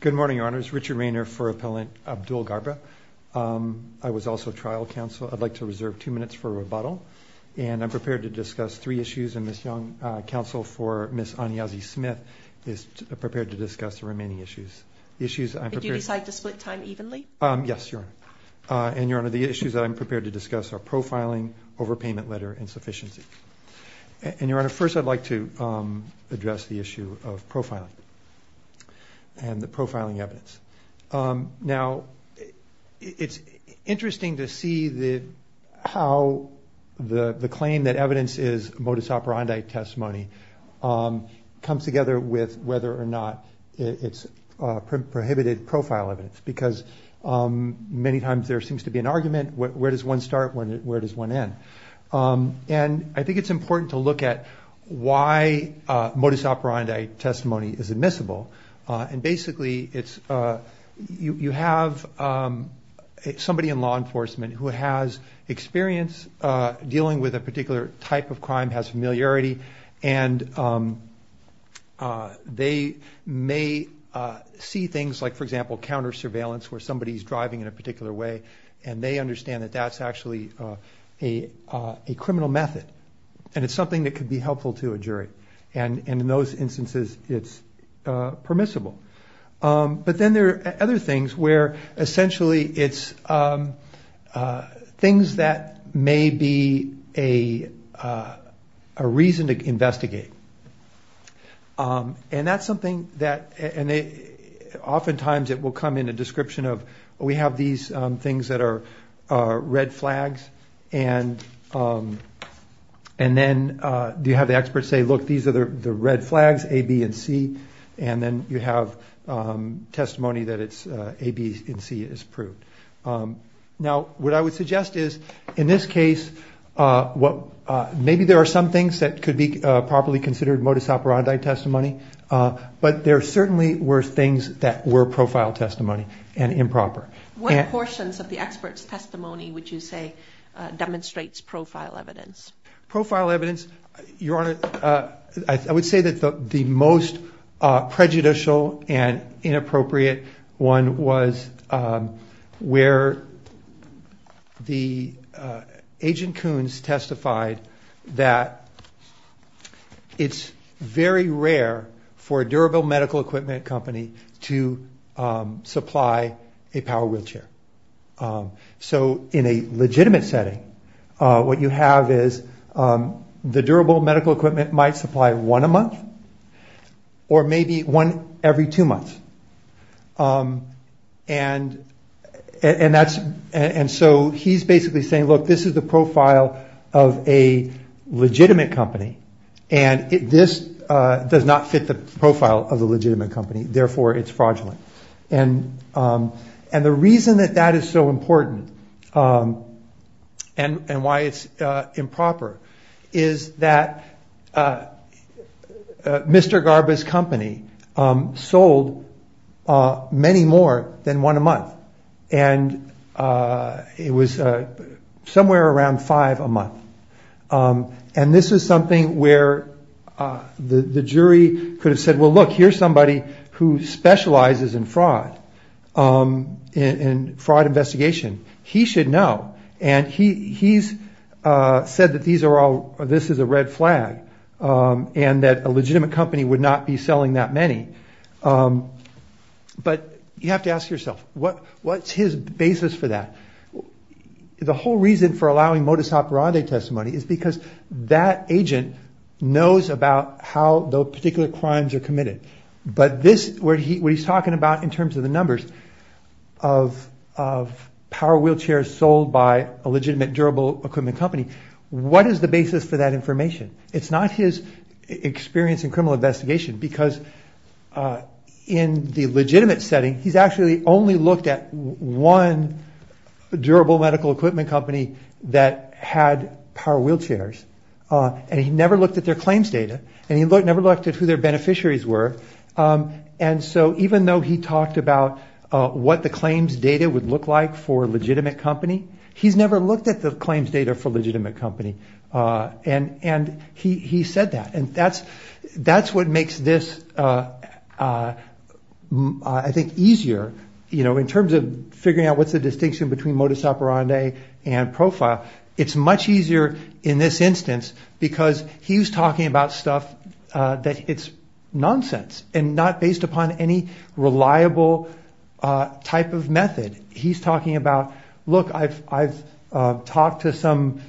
Good morning, your honors. Richard Rainer for Appellant Abdul Garba. I was also trial counsel. I'd like to reserve two minutes for rebuttal, and I'm prepared to discuss three issues, and Ms. Young, counsel for Ms. Anyazi-Smith, is prepared to discuss the remaining issues. Did you decide to split time evenly? Yes, your honor. And your honor, the issues that I'm prepared to discuss are profiling, overpayment letter, and sufficiency. And your honor, first I'd like to address the issue of profiling and the profiling evidence. Now, it's interesting to see how the claim that evidence is modus operandi testimony comes together with whether or not it's prohibited profile evidence, because many times there seems to be an argument, where does one start, where does one end? And I think it's important to look at why modus operandi testimony is admissible. And basically, you have somebody in law enforcement who has experience dealing with a particular type of crime, has familiarity, and they may see things like, for example, counter surveillance, where somebody's driving in a particular way, and they understand that that's actually a criminal method. And it's something that could be helpful to a jury. And in those instances, it's permissible. But then there are other things where essentially it's things that may be a reason to investigate. And that's something that oftentimes it will come in a description of, we have these things that are red flags, and then you have the experts say, look, these are the red flags, A, B, and C, and then you have testimony that it's A, B, and C is proved. Now, what I would suggest is, in this case, maybe there are some things that could be properly considered modus operandi testimony, but there certainly were things that were profile testimony and improper. What portions of the expert's testimony would you say demonstrates profile evidence? Profile evidence, Your Honor, I would say that the most prejudicial and inappropriate one was where the agent Coons testified that it's very rare for a durable medical equipment company to supply a power wheelchair. So in a legitimate setting, what you have is the durable medical equipment might supply one a month, or maybe one every two months. And so he's basically saying, look, this is the profile of a legitimate company, and this does not fit the profile of a legitimate company, therefore it's fraudulent. And the reason that that is so important and why it's improper is that Mr. Garba's company sold many more than one a month, and it was somewhere around five a month. And this is something where the jury could have said, well, look, here's somebody who specializes in fraud, in fraud investigation. He should know, and he's said that this is a red flag and that a legitimate company would not be selling that many. But you have to ask yourself, what's his basis for that? The whole reason for allowing modus operandi testimony is because that agent knows about how those particular crimes are committed. But this, what he's talking about in terms of the numbers of power wheelchairs sold by a legitimate durable equipment company, what is the basis for that information? It's not his experience in criminal investigation, because in the legitimate setting, he's actually only looked at one durable medical equipment company that had power wheelchairs. And he never looked at their claims data, and he never looked at who their beneficiaries were. And so even though he talked about what the claims data would look like for a legitimate company, he's never looked at the claims data for a legitimate company. And he said that, and that's what makes this, I think, easier in terms of figuring out what's the distinction between modus operandi and profile. It's much easier in this instance, because he's talking about stuff that it's nonsense and not based upon any reliable type of method. He's talking about, look, I've talked to some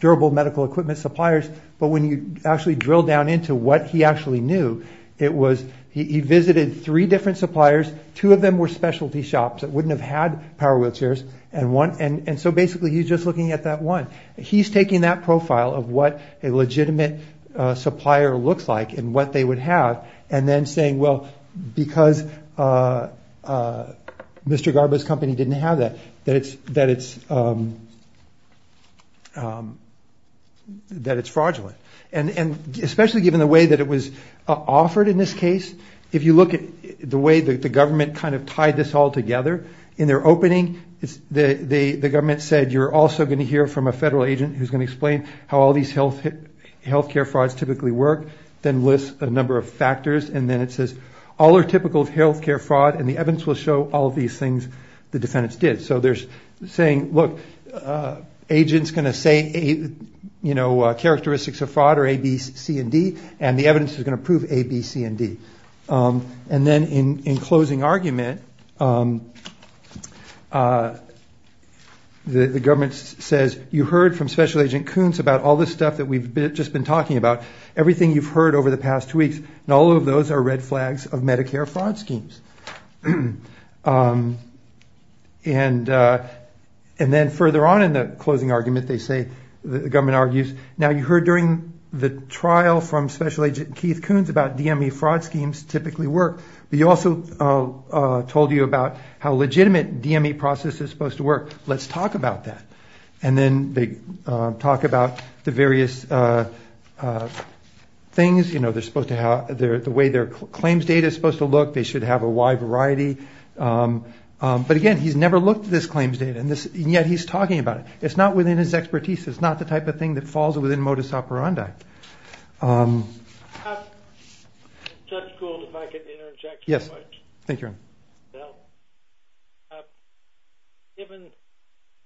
durable medical equipment suppliers. But when you actually drill down into what he actually knew, it was, he visited three different suppliers. Two of them were specialty shops that wouldn't have had power wheelchairs. And so basically, he's just looking at that one. He's taking that profile of what a legitimate supplier looks like and what they would have, and then saying, well, because Mr. Garba's company didn't have that, that it's fraudulent. And especially given the way that it was offered in this case, if you look at the way that the government kind of tied this all together, in their opening, the government said, you're also going to hear from a federal agent who's going to explain how all these health care frauds typically work, then list a number of factors, and then it says, all are typical of health care fraud, and the evidence will show all of these things the defendants did. So they're saying, look, agent's going to say characteristics of fraud are A, B, C, and D, and the evidence is going to prove A, B, C, and D. And then in closing argument, the government says, you heard from Special Agent Koontz about all this stuff that we've just been talking about, everything you've heard over the past two weeks, and all of those are red flags of Medicare fraud schemes. And then further on in the closing argument, they say, the government argues, now you heard during the trial from Special Agent Keith Koontz about DME fraud schemes and how they typically work, but he also told you about how legitimate DME process is supposed to work, let's talk about that. And then they talk about the various things, the way their claims data is supposed to look, they should have a wide variety. But again, he's never looked at this claims data, and yet he's talking about it. It's not within his expertise, it's not the type of thing that falls within modus operandi. Judge Gould, if I could interject. Yes, thank you. Given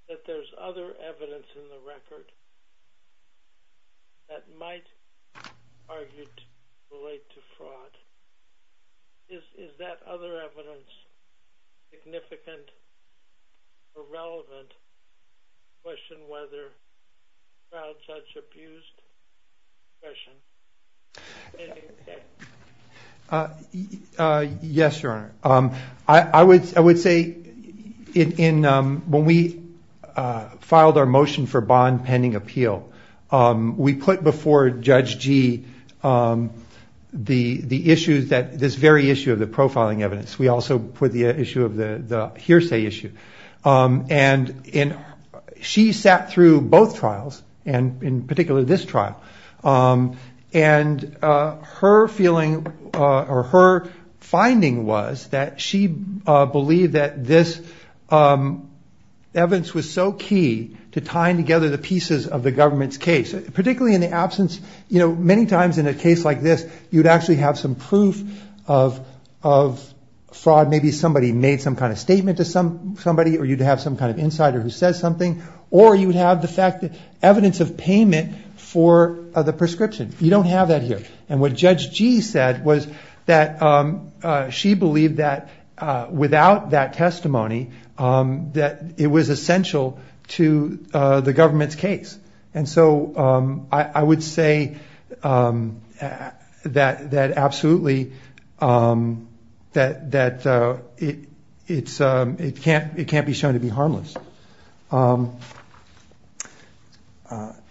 that there's other evidence in the record that might, argued, relate to fraud, is that other evidence significant or relevant to question whether a trial judge abused his discretion? Yes, Your Honor. I would say, when we filed our motion for bond pending appeal, we put before Judge G the issues that, this very issue of the profiling evidence. We also put the issue of the hearsay issue. And she sat through both trials, and in particular this trial. And her feeling, or her finding was that she believed that this evidence was so key to tying together the pieces of the government's case. Particularly in the absence, you know, many times in a case like this, you'd actually have some proof of fraud. Maybe somebody made some kind of statement to somebody, or you'd have some kind of insider who says something. Or you'd have the fact that evidence of payment for the prescription. You don't have that here. And what Judge G said was that she believed that without that testimony, that it was essential to the government's case. And so, I would say that absolutely, that it can't be shown to be harmless.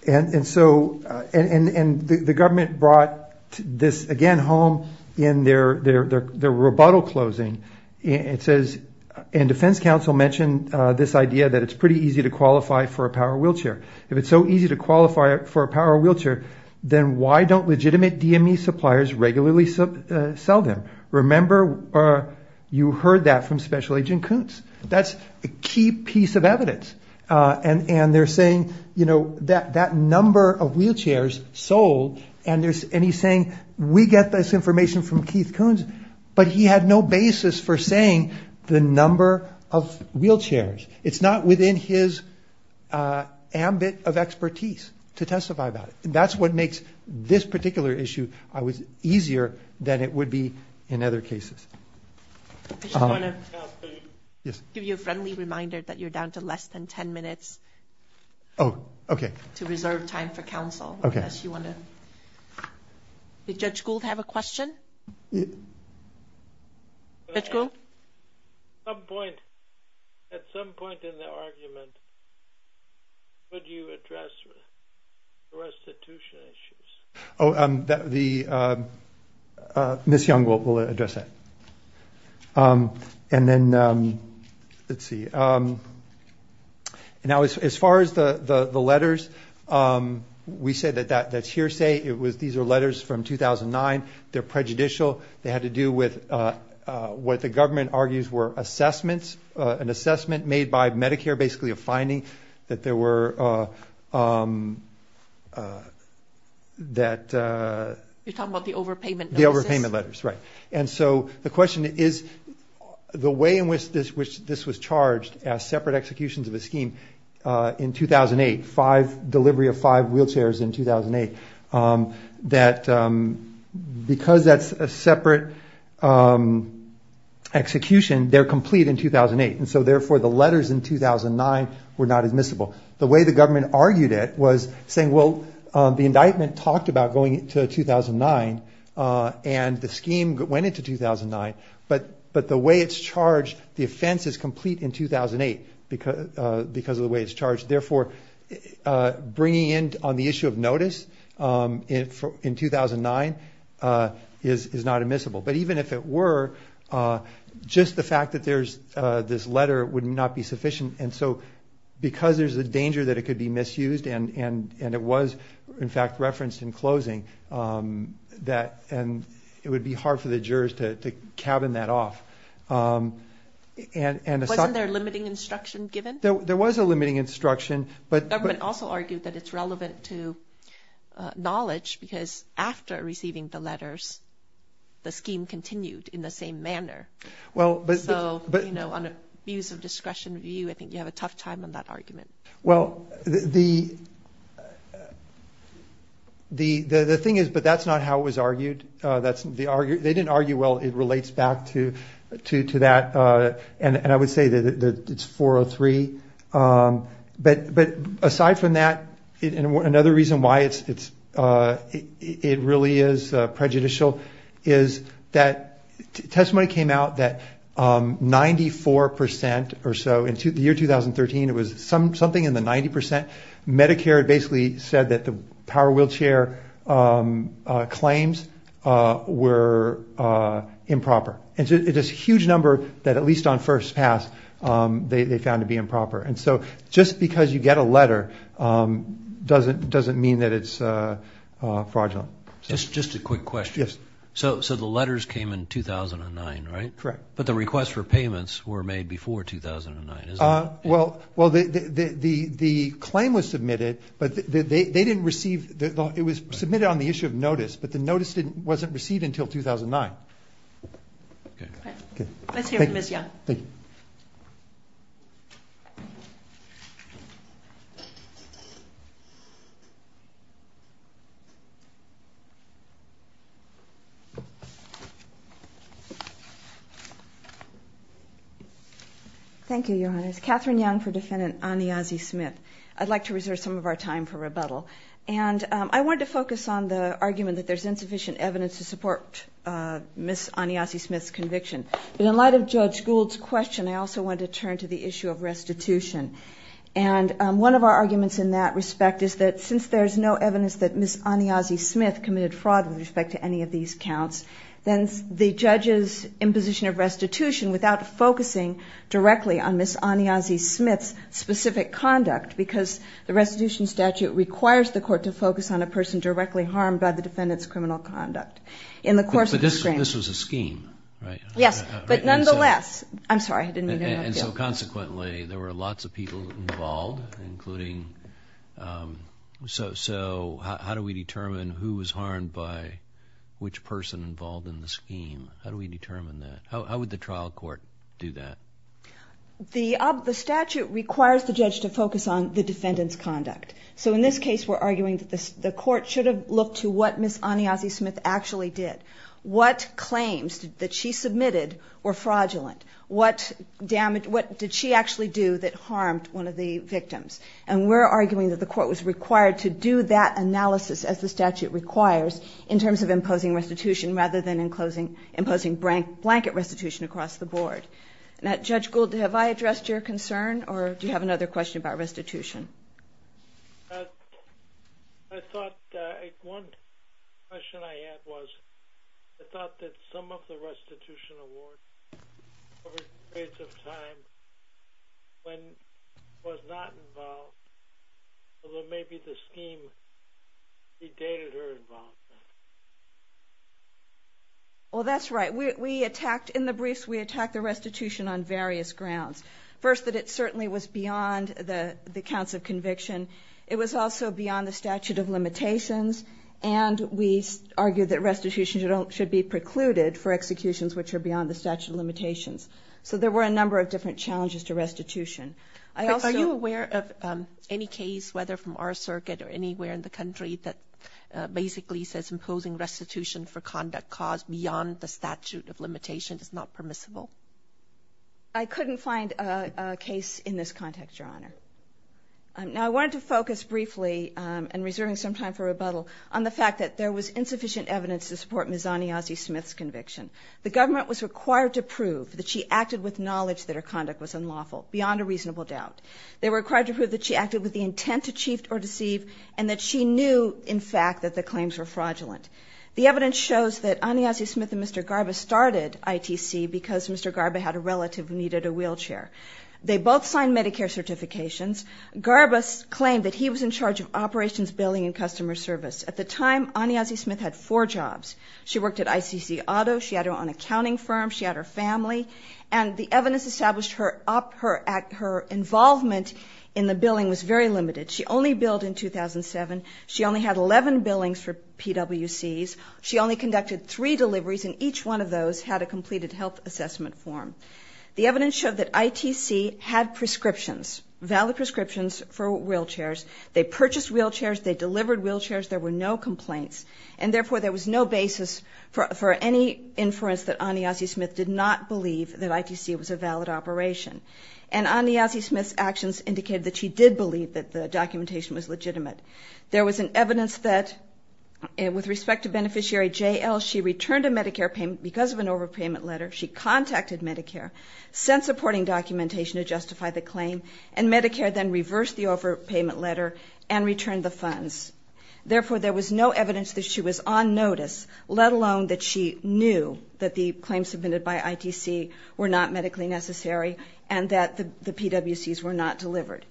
And so, the government brought this again home in their rebuttal closing. It says, and defense counsel mentioned this idea that it's pretty easy to qualify for a power wheelchair. If it's so easy to qualify for a power wheelchair, then why don't legitimate DME suppliers regularly sell them? Remember, you heard that from Special Agent Koontz. That's a key piece of evidence. And they're saying, you know, that number of wheelchairs sold, and he's saying, we get this information from Keith Koontz. But he had no basis for saying the number of wheelchairs. It's not within his ambit of expertise to testify about it. And that's what makes this particular issue easier than it would be in other cases. I just want to give you a friendly reminder that you're down to less than 10 minutes. Oh, okay. To reserve time for counsel. Did Judge Gould have a question? Judge Gould? At some point in the argument, would you address restitution issues? Oh, Ms. Young will address that. And then, let's see. Now, as far as the letters, we say that that's hearsay. These are letters from 2009. They're prejudicial. They had to do with what the government argues were assessments. An assessment made by Medicare, basically a finding that there were that... You're talking about the overpayment notices? The overpayment letters, right. And so the question is, the way in which this was charged as separate executions of a scheme in 2008, delivery of five wheelchairs in 2008, that because that's a separate execution, they're complete in 2008. And so, therefore, the letters in 2009 were not admissible. The way the government argued it was saying, well, the indictment talked about going to 2009, and the scheme went into 2009, but the way it's charged, the offense is complete in 2008 because of the way it's charged. So, bringing in on the issue of notice in 2009 is not admissible. But even if it were, just the fact that there's this letter would not be sufficient. And so, because there's a danger that it could be misused, and it was, in fact, referenced in closing, it would be hard for the jurors to cabin that off. Wasn't there limiting instruction given? There was a limiting instruction. The government also argued that it's relevant to knowledge because after receiving the letters, the scheme continued in the same manner. So, on a views of discretion view, I think you have a tough time on that argument. Well, the thing is, but that's not how it was argued. They didn't argue well. It relates back to that. And I would say that it's 403. But aside from that, another reason why it really is prejudicial is that testimony came out that 94% or so, in the year 2013, it was something in the 90%, Medicare basically said that the power wheelchair claims were improper. And it's a huge number that, at least on first pass, they found to be improper. And so, just because you get a letter doesn't mean that it's fraudulent. Just a quick question. Yes. So, the letters came in 2009, right? Correct. But the request for payments were made before 2009, isn't it? Well, the claim was submitted, but they didn't receive, it was submitted on the issue of notice, but the notice wasn't received until 2009. Okay. Let's hear from Ms. Young. Thank you. Thank you, Your Honor. It's Catherine Young for Defendant Aniazi-Smith. And I wanted to focus on the argument that there's insufficient evidence to support Ms. Aniazi-Smith's conviction. But in light of Judge Gould's question, I also wanted to turn to the issue of restitution. And one of our arguments in that respect is that since there's no evidence that Ms. Aniazi-Smith committed fraud with respect to any of these counts, then the judge's imposition of restitution, without focusing directly on Ms. Aniazi-Smith's specific conduct, because the restitution statute requires the court to focus on a person directly harmed by the defendant's criminal conduct. But this was a scheme, right? Yes, but nonetheless, I'm sorry, I didn't mean to interrupt you. And so consequently, there were lots of people involved, including, so how do we determine who was harmed by which person involved in the scheme? How do we determine that? How would the trial court do that? The statute requires the judge to focus on the defendant's conduct. So in this case, we're arguing that the court should have looked to what Ms. Aniazi-Smith actually did. What claims that she submitted were fraudulent? What damage, what did she actually do that harmed one of the victims? And we're arguing that the court was required to do that analysis, as the statute requires, in terms of imposing restitution rather than imposing blanket restitution across the board. Now, Judge Gould, have I addressed your concern? Or do you have another question about restitution? I thought, one question I had was, I thought that some of the restitution award, over periods of time, when it was not involved, although maybe the scheme, it dated her involvement. Well, that's right. We attacked, in the briefs, we attacked the restitution on various grounds. First, that it certainly was beyond the counts of conviction. It was also beyond the statute of limitations, and we argued that restitution should be precluded for executions which are beyond the statute of limitations. So there were a number of different challenges to restitution. Are you aware of any case, whether from our circuit or anywhere in the country, that basically says imposing restitution for conduct caused beyond the statute of limitations is not permissible? I couldn't find a case in this context, Your Honor. Now, I wanted to focus briefly, and reserving some time for rebuttal, on the fact that there was insufficient evidence to support Ms. Aniazi-Smith's conviction. The government was required to prove that she acted with knowledge that her conduct was unlawful, beyond a reasonable doubt. They were required to prove that she acted with the intent to cheat or deceive, and that she knew, in fact, that the claims were fraudulent. The evidence shows that Aniazi-Smith and Mr. Garba started ITC because Mr. Garba had a relative who needed a wheelchair. They both signed Medicare certifications. Garba claimed that he was in charge of operations, billing, and customer service. At the time, Aniazi-Smith had four jobs. She worked at ICC Auto, she had her own accounting firm, she had her family, and the evidence established her involvement in the billing was very limited. She only billed in 2007. She only had 11 billings for PWCs. She only conducted three deliveries, and each one of those had a completed health assessment form. The evidence showed that ITC had prescriptions, valid prescriptions, for wheelchairs. They purchased wheelchairs, they delivered wheelchairs, there were no complaints, and therefore there was no basis for any inference that Aniazi-Smith did not believe that ITC was a valid operation. And Aniazi-Smith's actions indicated that she did believe that the documentation was legitimate. There was an evidence that, with respect to beneficiary JL, she returned a Medicare payment because of an overpayment letter. She contacted Medicare, sent supporting documentation to justify the claim, and Medicare then reversed the overpayment letter and returned the funds. Therefore, there was no evidence that she was on notice, let alone that she knew that the claims submitted by ITC were not medically necessary, and that the PWCs were not delivered.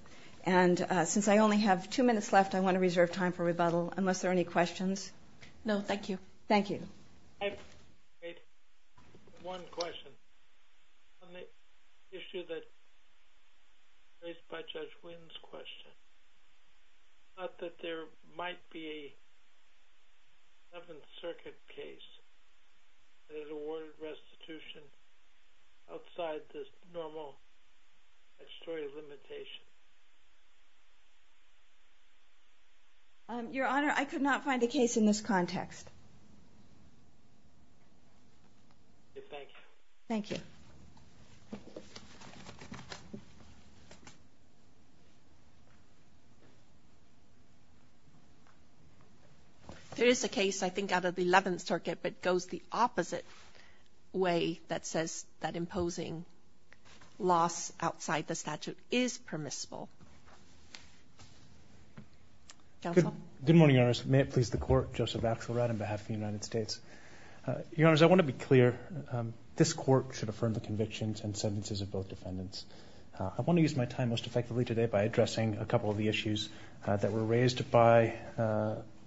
And since I only have two minutes left, I want to reserve time for rebuttal, unless there are any questions. No, thank you. Thank you. I have one question. On the issue that was raised by Judge Wynn's question, I thought that there might be a Seventh Circuit case that has awarded restitution outside this normal statutory limitation. Your Honor, I could not find a case in this context. Thank you. Thank you. There is a case, I think, out of the Eleventh Circuit, but it goes the opposite way that says that imposing loss outside the statute is permissible. Counsel? Good morning, Your Honor. May it please the Court, Joseph Axelrod on behalf of the United States. Your Honor, I want to be clear. This Court should affirm the convictions and sentences of both defendants. I want to use my time most effectively today by addressing a couple of the issues that were raised by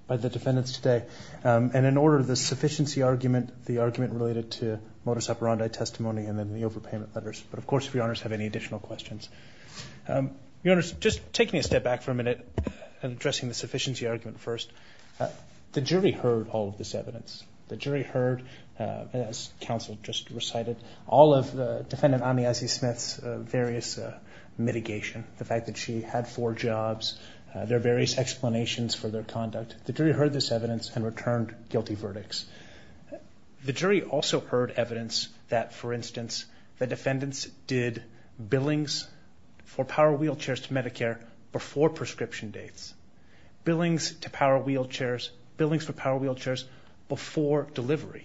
the defendants today, and in order, the sufficiency argument, the argument related to modus operandi testimony, and then the overpayment letters. But, of course, if Your Honors have any additional questions. Your Honors, just take me a step back for a minute, addressing the sufficiency argument first. The jury heard all of this evidence. The jury heard, as counsel just recited, all of Defendant Amiazi-Smith's various mitigation, the fact that she had four jobs, there are various explanations for their conduct. The jury heard this evidence and returned guilty verdicts. The jury also heard evidence that, for instance, the defendants did billings for power wheelchairs to Medicare before prescription dates. Billings to power wheelchairs, billings for power wheelchairs before delivery.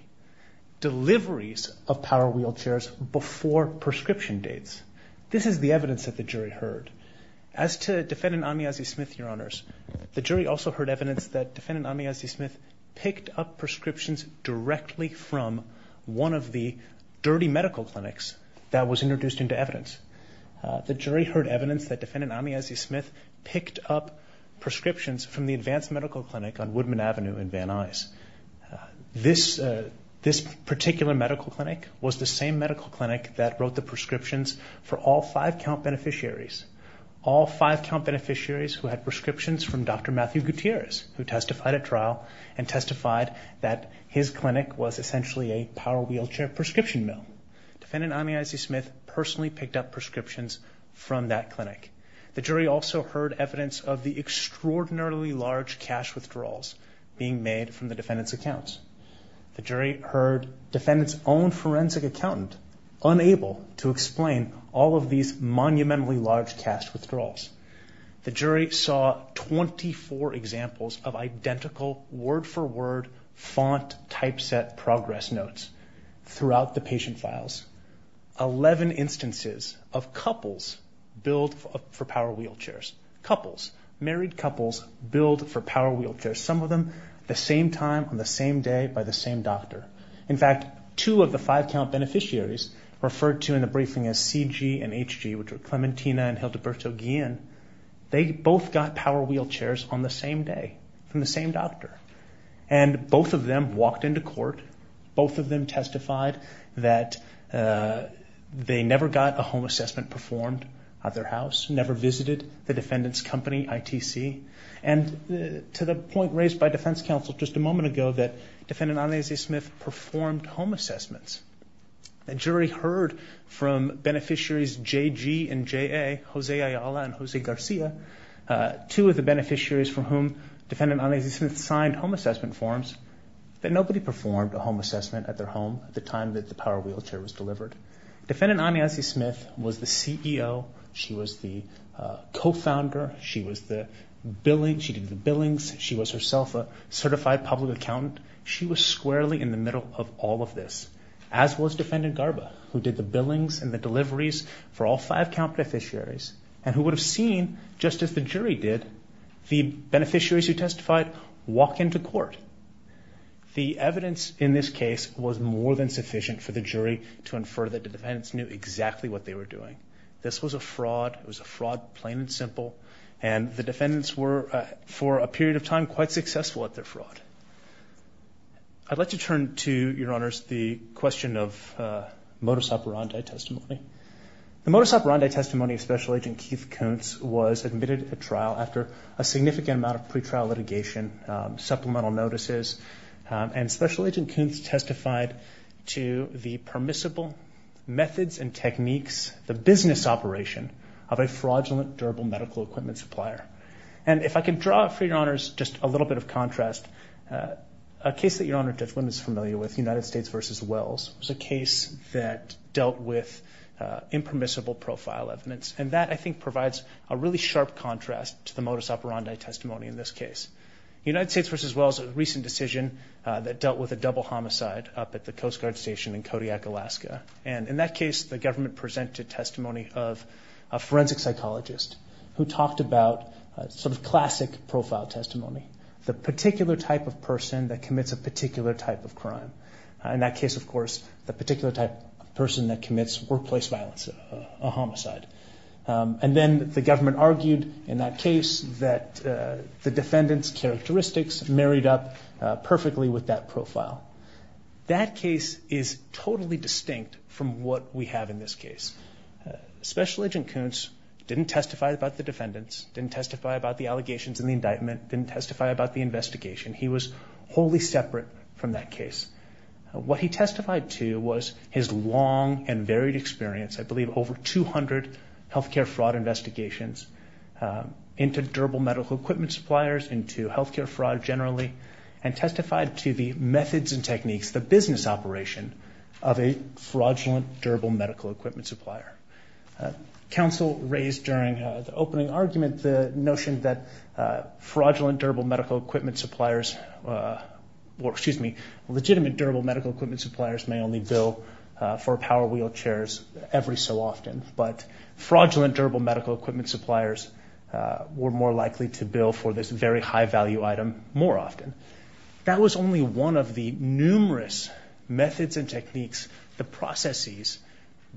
Deliveries of power wheelchairs before prescription dates. This is the evidence that the jury heard. As to Defendant Amiazi-Smith, Your Honors, the jury also heard evidence that Defendant Amiazi-Smith picked up prescriptions directly from one of the dirty medical clinics that was introduced into evidence. The jury heard evidence that Defendant Amiazi-Smith picked up prescriptions from the Advanced Medical Clinic on Woodman Avenue in Van Nuys. This particular medical clinic was the same medical clinic that wrote the prescriptions for all five count beneficiaries. All five count beneficiaries who had prescriptions from Dr. Matthew Gutierrez, who testified at trial and testified that his clinic was essentially a power wheelchair prescription mill. Defendant Amiazi-Smith personally picked up prescriptions from that clinic. The jury also heard evidence of the extraordinarily large cash withdrawals being made from the Defendant's accounts. The jury heard Defendant's own forensic accountant unable to explain all of these monumentally large cash withdrawals. The jury saw 24 examples of identical word-for-word font typeset progress notes throughout the patient files. Eleven instances of couples billed for power wheelchairs. Couples. Married couples billed for power wheelchairs. Some of them the same time, on the same day, by the same doctor. In fact, two of the five count beneficiaries referred to in the briefing as CG and HG, which were Clementina and Hildeberto Guillen. They both got power wheelchairs on the same day from the same doctor. And both of them walked into court. Both of them testified that they never got a home assessment performed at their house. Never visited the Defendant's company, ITC. And to the point raised by defense counsel just a moment ago that Defendant Amiazi-Smith performed home assessments, a jury heard from beneficiaries JG and JA, Jose Ayala and Jose Garcia, two of the beneficiaries for whom Defendant Amiazi-Smith signed home assessment forms, that nobody performed a home assessment at their home at the time that the power wheelchair was delivered. Defendant Amiazi-Smith was the CEO. She was the co-founder. She was the billing. She did the billings. She was herself a certified public accountant. She was squarely in the middle of all of this, as was Defendant Garba, who did the billings and the deliveries for all five count beneficiaries and who would have seen, just as the jury did, the beneficiaries who testified walk into court. The evidence in this case was more than sufficient for the jury to infer that the defendants knew exactly what they were doing. This was a fraud. It was a fraud, plain and simple, and the defendants were, for a period of time, quite successful at their fraud. I'd like to turn to, Your Honors, the question of modus operandi testimony. The modus operandi testimony of Special Agent Keith Koontz was admitted at trial after a significant amount of pretrial litigation, supplemental notices, and Special Agent Koontz testified to the permissible methods and techniques, the business operation, of a fraudulent durable medical equipment supplier. And if I can draw, for Your Honors, just a little bit of contrast, a case that Your Honor is familiar with, United States v. Wells, was a case that dealt with impermissible profile evidence, and that, I think, provides a really sharp contrast to the modus operandi testimony in this case. United States v. Wells was a recent decision that dealt with a double homicide up at the Coast Guard Station in Kodiak, Alaska. And in that case, the government presented testimony of a forensic psychologist who talked about sort of classic profile testimony, the particular type of person that commits a particular type of crime. In that case, of course, the particular type of person that commits workplace violence, a homicide. And then the government argued, in that case, that the defendant's characteristics married up perfectly with that profile. That case is totally distinct from what we have in this case. Special Agent Kuntz didn't testify about the defendants, didn't testify about the allegations and the indictment, didn't testify about the investigation. He was wholly separate from that case. What he testified to was his long and varied experience, I believe over 200 healthcare fraud investigations involving durable medical equipment suppliers into healthcare fraud generally, and testified to the methods and techniques, the business operation, of a fraudulent durable medical equipment supplier. Counsel raised during the opening argument the notion that fraudulent durable medical equipment suppliers, or, excuse me, legitimate durable medical equipment suppliers may only bill for power wheelchairs every so often, but fraudulent durable medical equipment suppliers were more likely to bill for this very high-value item more often. That was only one of the numerous methods and techniques, the processes,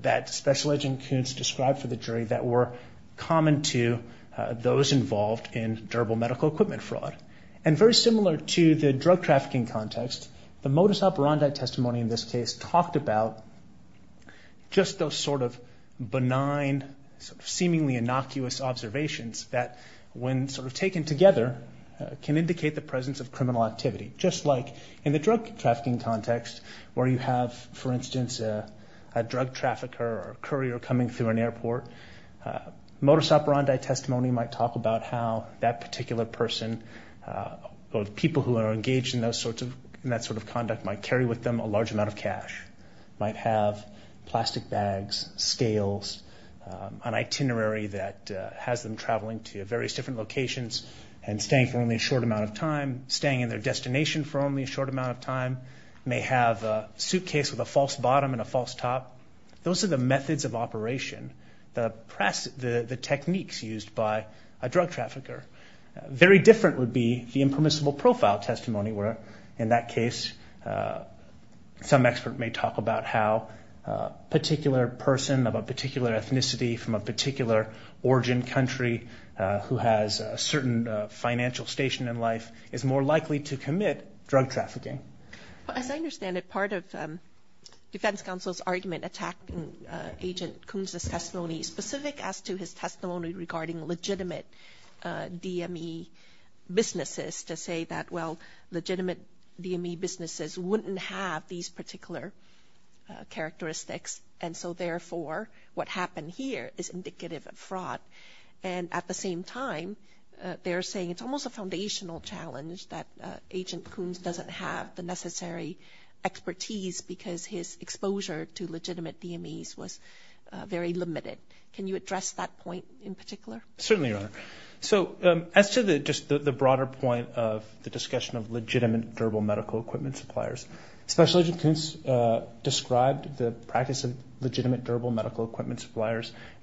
that Special Agent Kuntz described for the jury that were common to those involved in durable medical equipment fraud. And very similar to the drug trafficking context, the modus operandi testimony in this case talked about just those sort of benign, seemingly innocuous observations that, when sort of taken together, can indicate the presence of criminal activity. Just like in the drug trafficking context, where you have, for instance, a drug trafficker or courier coming through an airport, modus operandi testimony might talk about how that particular person or the people who are engaged in that sort of conduct might carry with them a large amount of cash, might have plastic bags, scales, an itinerary that they're traveling to various different locations and staying for only a short amount of time, staying in their destination for only a short amount of time, may have a suitcase with a false bottom and a false top. Those are the methods of operation, the techniques used by a drug trafficker. Very different would be the impermissible profile testimony, where, in that case, some expert may talk about how a particular person of a particular ethnicity from a particular origin country who has a certain financial station in life is more likely to commit drug trafficking. As I understand it, part of Defense Counsel's argument attacking Agent Kunz's testimony is specific as to his testimony regarding legitimate DME businesses to say that, well, legitimate DME businesses wouldn't have these particular characteristics. And so, therefore, legitimate DME supplier is indicative of fraud. And at the same time, they're saying it's almost a foundational challenge that Agent Kunz doesn't have the necessary expertise because his exposure to legitimate DMEs was very limited. Can you address that point in particular? Certainly, Your Honor. So, as to the broader point of the discussion of legitimate durable medical equipment suppliers, Special Agent Kunz described what he did,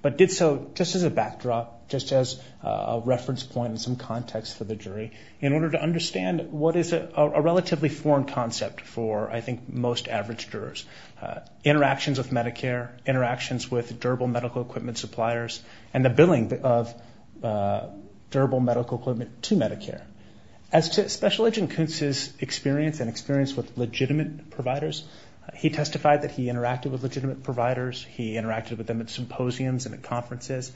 but did so just as a backdrop, just as a reference point and some context for the jury in order to understand what is a relatively foreign concept for, I think, most average jurors. Interactions with Medicare, interactions with durable medical equipment suppliers, and the billing of durable medical equipment to Medicare. As to Special Agent Kunz's experience and experience with legitimate providers, with legitimate conferences,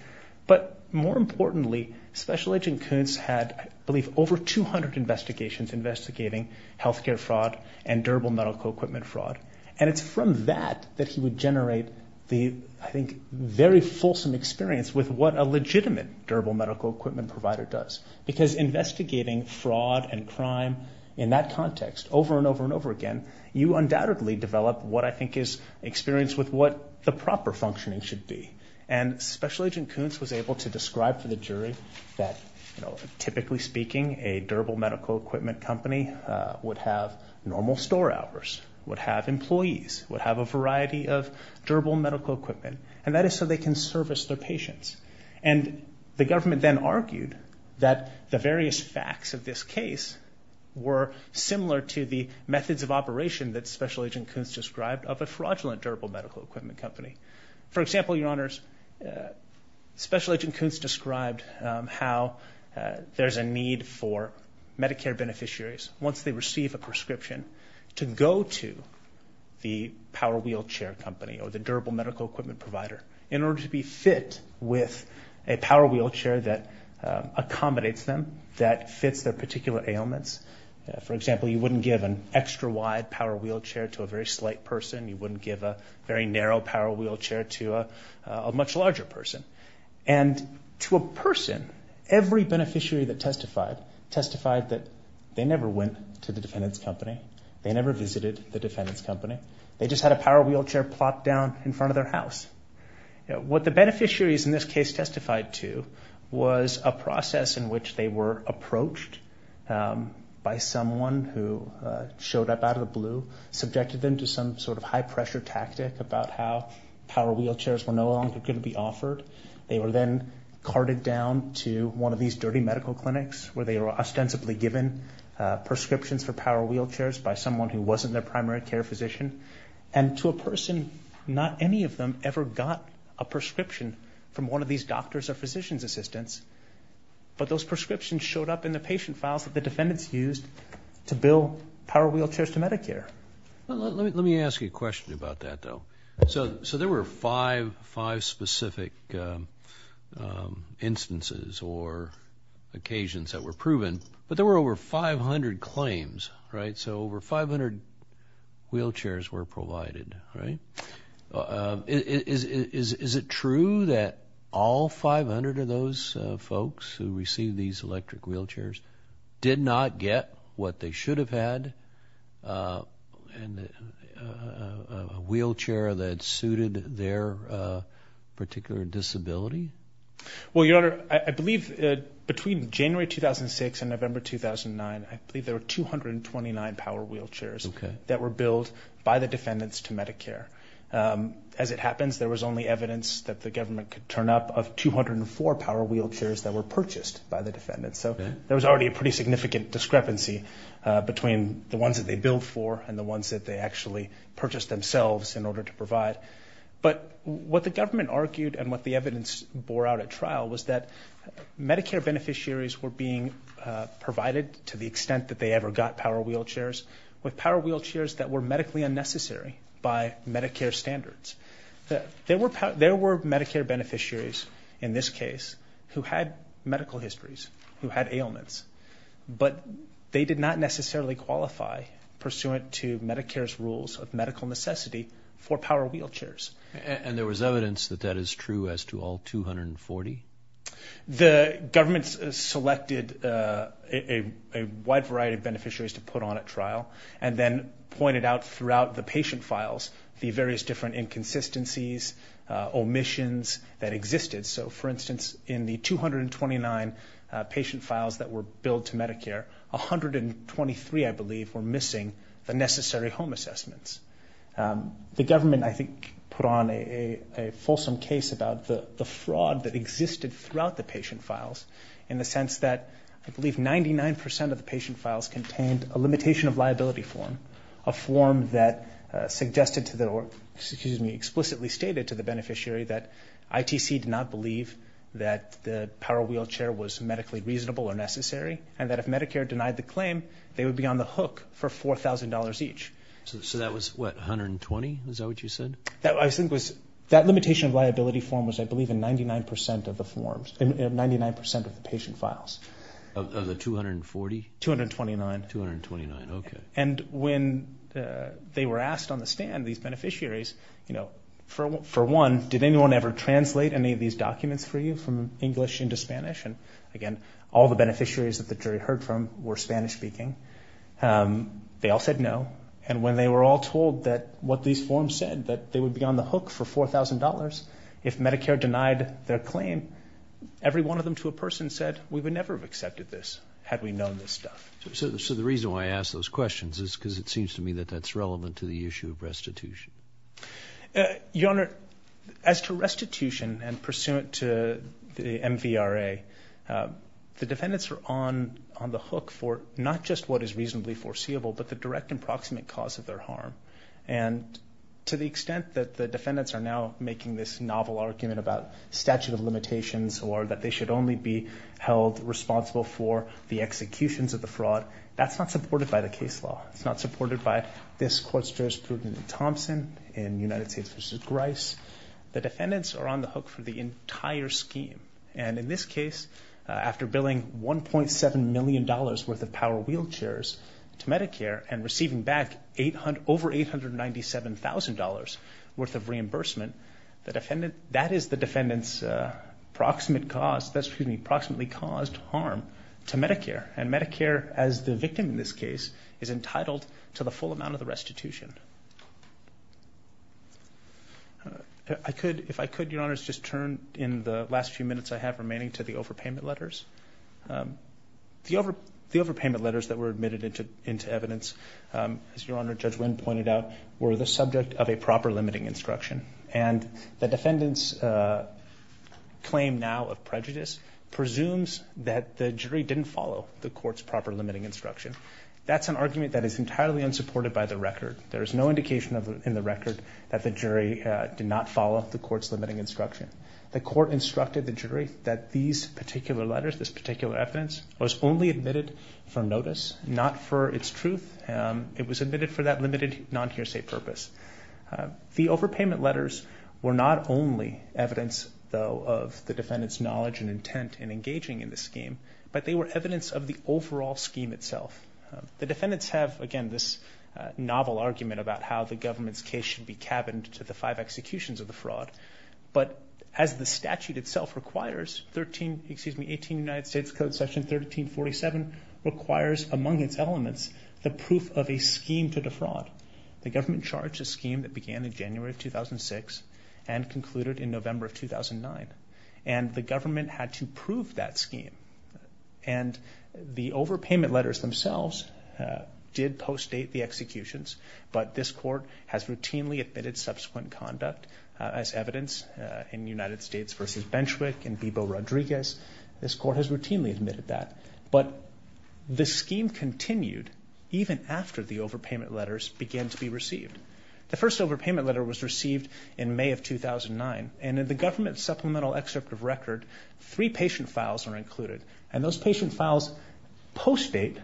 but more importantly, Special Agent Kunz had, I believe, over 200 investigations investigating healthcare fraud and durable medical equipment fraud. And it's from that that he would generate the, I think, very fulsome experience with what a legitimate durable medical equipment provider does. Because investigating fraud and crime in that context over and over and over again, you undoubtedly develop and Special Agent Kunz was able to describe to the jury that typically speaking, a durable medical equipment company would have normal store hours, would have employees, would have a variety of durable medical equipment, and that is so they can service their patients. And the government then argued that the various facts of this case were similar to the methods of operation that Special Agent Kunz described of a fraudulent medical equipment provider. Special Agent Kunz described how there's a need for Medicare beneficiaries, once they receive a prescription, to go to the power wheelchair company or the durable medical equipment provider in order to be fit with a power wheelchair that accommodates them, that fits their particular ailments. For example, you wouldn't give an extra wide power wheelchair to a very slight person. You wouldn't give a very narrow power wheelchair to a much larger person. And to a person, every beneficiary that testified testified that they never went to the defendant's company. They never visited the defendant's company. They just had a power wheelchair plopped down in front of their house. What the beneficiaries in this case testified to was a process in which they were approached by someone who showed up out of the blue, subjected them to some sort of high-pressure tactic about how power wheelchairs were no longer going to be offered. They were then carted down to one of these dirty medical clinics where they were ostensibly given prescriptions for power wheelchairs by someone who wasn't their primary care physician. And to a person, not any of them ever got a prescription from one of these doctors or physician's assistants, but those prescriptions showed up and they were provided. Let me ask you a question about that, though. So there were five specific instances or occasions that were proven, but there were over 500 claims, right? So over 500 wheelchairs were provided, right? Is it true that all 500 of those folks who received these electric wheelchairs did not get what they should have had and a wheelchair that suited their particular disability? Well, Your Honor, I believe between January 2006 and November 2009, I believe there were 229 power wheelchairs that were billed by the defendants to Medicare. As it happens, there was only evidence that the government could turn up of 204 power wheelchairs that were purchased by the defendants. So there was already a pretty significant discrepancy between the ones that they billed for and the ones that they actually purchased themselves in order to provide. But what the government argued and what the evidence bore out at trial was that Medicare beneficiaries were being provided to the extent that they ever got power wheelchairs with power wheelchairs that were medically unnecessary by Medicare standards. There were Medicare beneficiaries in this case who had medical histories, who had ailments, but they did not necessarily qualify pursuant to Medicare's rules of medical necessity for power wheelchairs. And there was evidence that that is true as to all 240? The government selected a wide variety of beneficiaries to put on at trial and then pointed out throughout the patient files the various different inconsistencies, omissions that existed. So, for instance, out of all the patient files that were billed to Medicare, 123, I believe, were missing the necessary home assessments. The government, I think, put on a fulsome case about the fraud that existed throughout the patient files in the sense that I believe 99 percent of the patient files contained a limitation of liability form, a form that suggested to the or, excuse me, explicitly stated to the beneficiary that ITC did not believe that it was made reasonable or necessary and that if Medicare denied the claim, they would be on the hook for $4,000 each. So that was, what, 120? Is that what you said? That limitation of liability form was, I believe, in 99 percent of the patient files. Of the 240? 229. 229, okay. And when they were asked on the stand, these beneficiaries, for one, all the beneficiaries that the jury heard from were Spanish-speaking, they all said no. And when they were all told that what these forms said, that they would be on the hook for $4,000 if Medicare denied their claim, every one of them to a person said, we would never have accepted this had we known this stuff. So the reason why I ask those questions is because it seems to me that that's relevant to the issue of restitution. Your Honor, as to restitution the defendants are on the hook for not just what is reasonably foreseeable but the direct and proximate cause of their harm. And to the extent that the defendants are now making this novel argument about statute of limitations or that they should only be held responsible for the executions of the fraud, that's not supported by the case law. It's not supported by this court's jurisprudence in Thompson, in United States v. Grice. The defendants are on the hook for the entire scheme. If the defendant is paying $1.7 million worth of power wheelchairs to Medicare and receiving back over $897,000 worth of reimbursement, that is the defendants proximate cause, excuse me, proximately caused harm to Medicare. And Medicare, as the victim in this case, is entitled to the full amount of the restitution. If I could, Your Honor, if I could just turn in the last few minutes I have remaining to the overpayment letters. The overpayment letters that were admitted into evidence, as Your Honor, Judge Wynn pointed out, were the subject of a proper limiting instruction. And the defendants claim now of prejudice presumes that the jury didn't follow the court's proper limiting instruction. That's an argument that is entirely unsupported by the record. The court instructed the jury that these particular letters, this particular evidence, was only admitted for notice, not for its truth. It was admitted for that limited non-hearsay purpose. The overpayment letters were not only evidence, though, of the defendants' knowledge and intent in engaging in the scheme, but they were evidence of the overall scheme itself. The defendants have, again, this novel argument about how the government's case should be cabined to the five executions of the fraud. As the statute itself requires, 13, excuse me, 18 United States Code Section 1347 requires, among its elements, the proof of a scheme to defraud. The government charged a scheme that began in January of 2006 and concluded in November of 2009. And the government had to prove that scheme. And the overpayment letters themselves did post-date the executions, but this court has routinely admitted subsequent conduct as evidence in United States v. Benchwick and Bebo Rodriguez. This court has routinely admitted that. But the scheme continued even after the overpayment letters began to be received. The first overpayment letter was received in May of 2009. And in the government's supplemental excerpt of record, three patient files are included. And those patient files post-date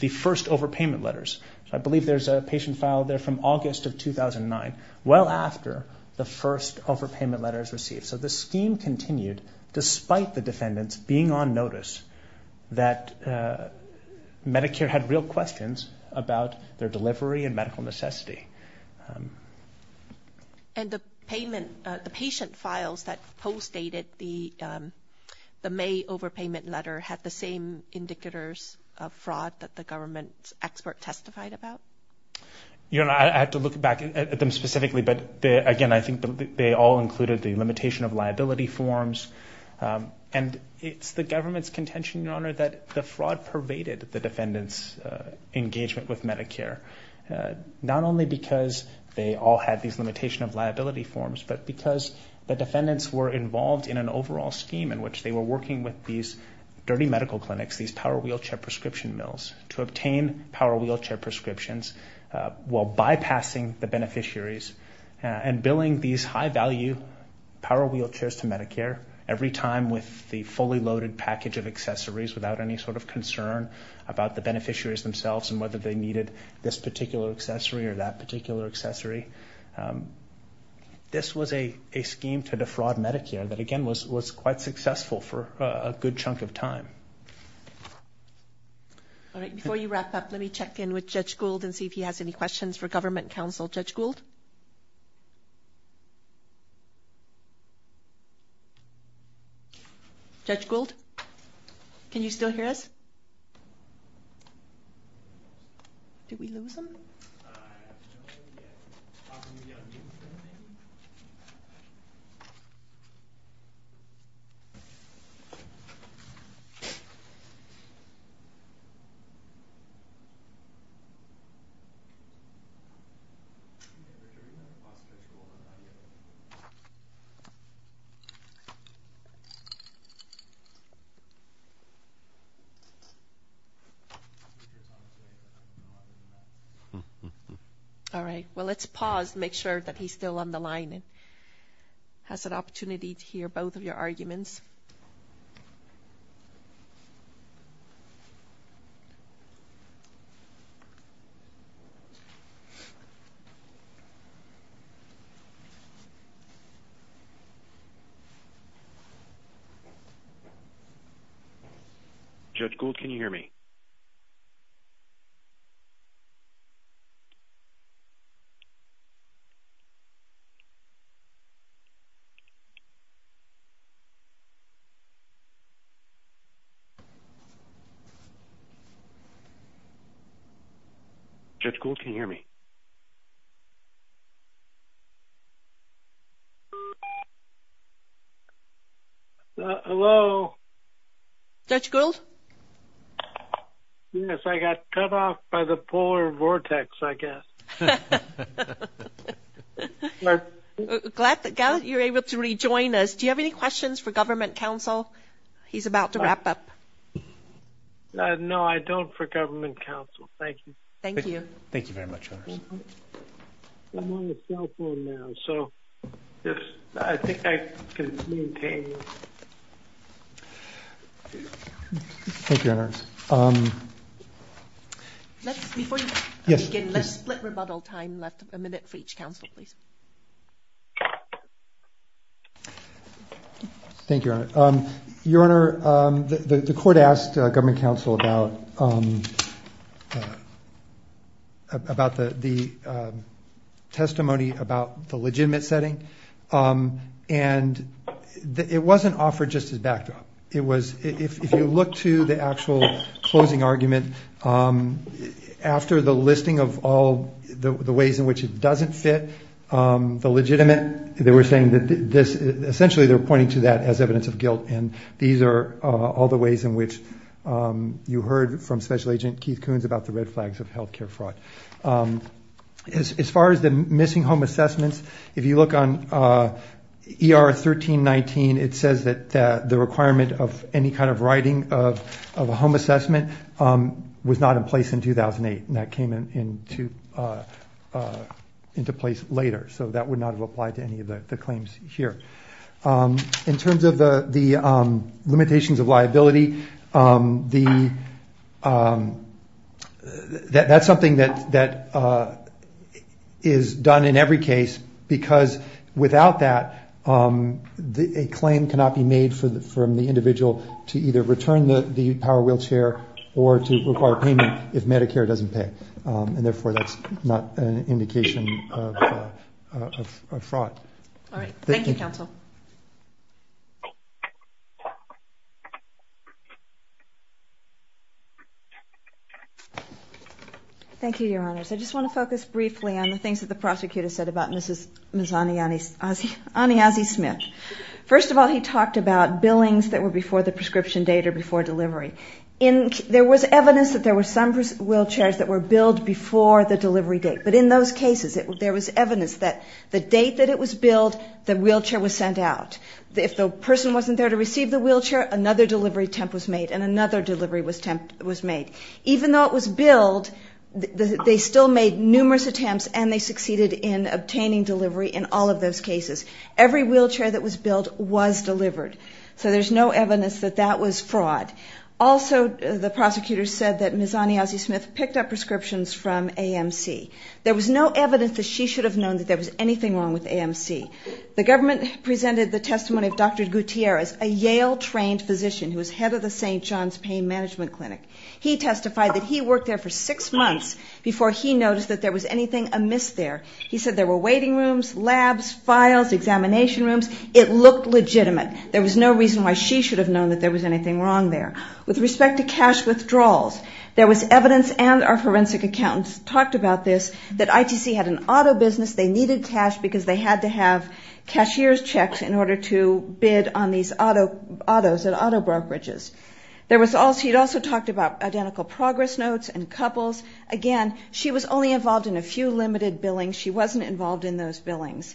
the first overpayment letters. I believe there's a patient file there from August of 2009, well after the first overpayment letters received. So the scheme continued despite the defendants being on notice that Medicare had real questions about their delivery and medical necessity. And the patient files that post-dated the May overpayment letter had the same indicators of fraud that the government expert testified about? I have to look back at them specifically, but again, I think they all included the limitation of liability forms. And it's the government's contention, Your Honor, that the fraud pervaded the defendants' engagement with Medicare. Not only because they all had these limitation of liability forms, but because the defendants were involved in an overall scheme in which they were working with these dirty medical clinics, these power wheelchair prescription mills, to obtain power wheelchair prescriptions while bypassing the beneficiaries and billing these high-value power wheelchairs to Medicare every time with the fully loaded package of accessories without any sort of concern about the beneficiaries themselves and whether they needed this particular accessory or that particular accessory. This was a scheme to defraud Medicare that, again, was quite successful for a good chunk of time. All right. Before you wrap up, let me check in with Judge Gould and see if he has any questions for Government Counsel. Judge Gould? Judge Gould? Can you still hear us? Did we lose him? All right. Well, let's pause to make sure that he's still on the line and has an opportunity to hear both of your arguments. Judge Gould? Judge Gould, can you hear me? Judge Gould, can you hear me? Judge Gould, can you hear me? Hello? Judge Gould? Glad that you're able to rejoin us. Do you have any questions for Government Counsel? He's about to wrap up. Thank you. Thank you, Your Honor. Before you begin, let's split rebuttal time. We have a minute for each counsel, please. Thank you, Your Honor. Your Honor, the Court asked Government Counsel about the testimony about the legitimate setting, and it wasn't offered just as backdrop. It was, if you look to the actual closing argument, after the listing of all the ways in which it doesn't fit, the legitimate, they were saying that this, essentially, they're pointing to that as evidence of guilt, and these are all the ways in which you heard from Special Agent Keith Coons about the red flags of health care fraud. As far as the missing home assessments, if you look on ER 1319, it says that the requirement of any kind of writing of a home assessment was not in place in 2008, and that came into place later, so that would not have applied to any of the claims here. In terms of the limitations of liability, that's something that is done in every case because without that, a claim cannot be made from the individual to either return the power wheelchair or to require payment if Medicare doesn't pay, and therefore, that's not an indication of fraud. All right. Thank you, Counsel. Thank you, Your Honors. I just want to focus briefly on the things that the prosecutor said about Ms. Aniazi-Smith. First of all, he talked about billings that were before the prescription date or before delivery. There was evidence that there were some wheelchairs that were billed before the delivery date, but in those cases, there was evidence that the date that it was billed, the wheelchair was sent out. If the person wasn't there to receive the wheelchair, another delivery attempt was made and another delivery attempt was made. Even though it was billed, they still made numerous attempts and they succeeded in obtaining delivery in all of those cases. Every wheelchair that was billed was delivered, so there's no evidence that that was fraud. Also, the prosecutor said that Ms. Aniazi-Smith picked up prescriptions from AMC. There was no evidence that she should have known that there was anything wrong with AMC. The government presented the testimony of Dr. Gutierrez, a Yale-trained physician who was head of the St. John's Pain Management Clinic. He testified that he worked there for six months before he noticed that there was anything amiss there. He said there were waiting rooms, labs, files, examination rooms. It looked legitimate. There was no reason why she should have known that there was anything wrong there. With respect to cash withdrawals, there was evidence and our forensic accountants talked about this, that ITC had an auto business. They needed cash because they had to have cashier's checks in order to bid on these autos at autobroad bridges. He also talked about identical progress notes and couples. Again, she was only involved in a few limited billings. She wasn't involved in those billings.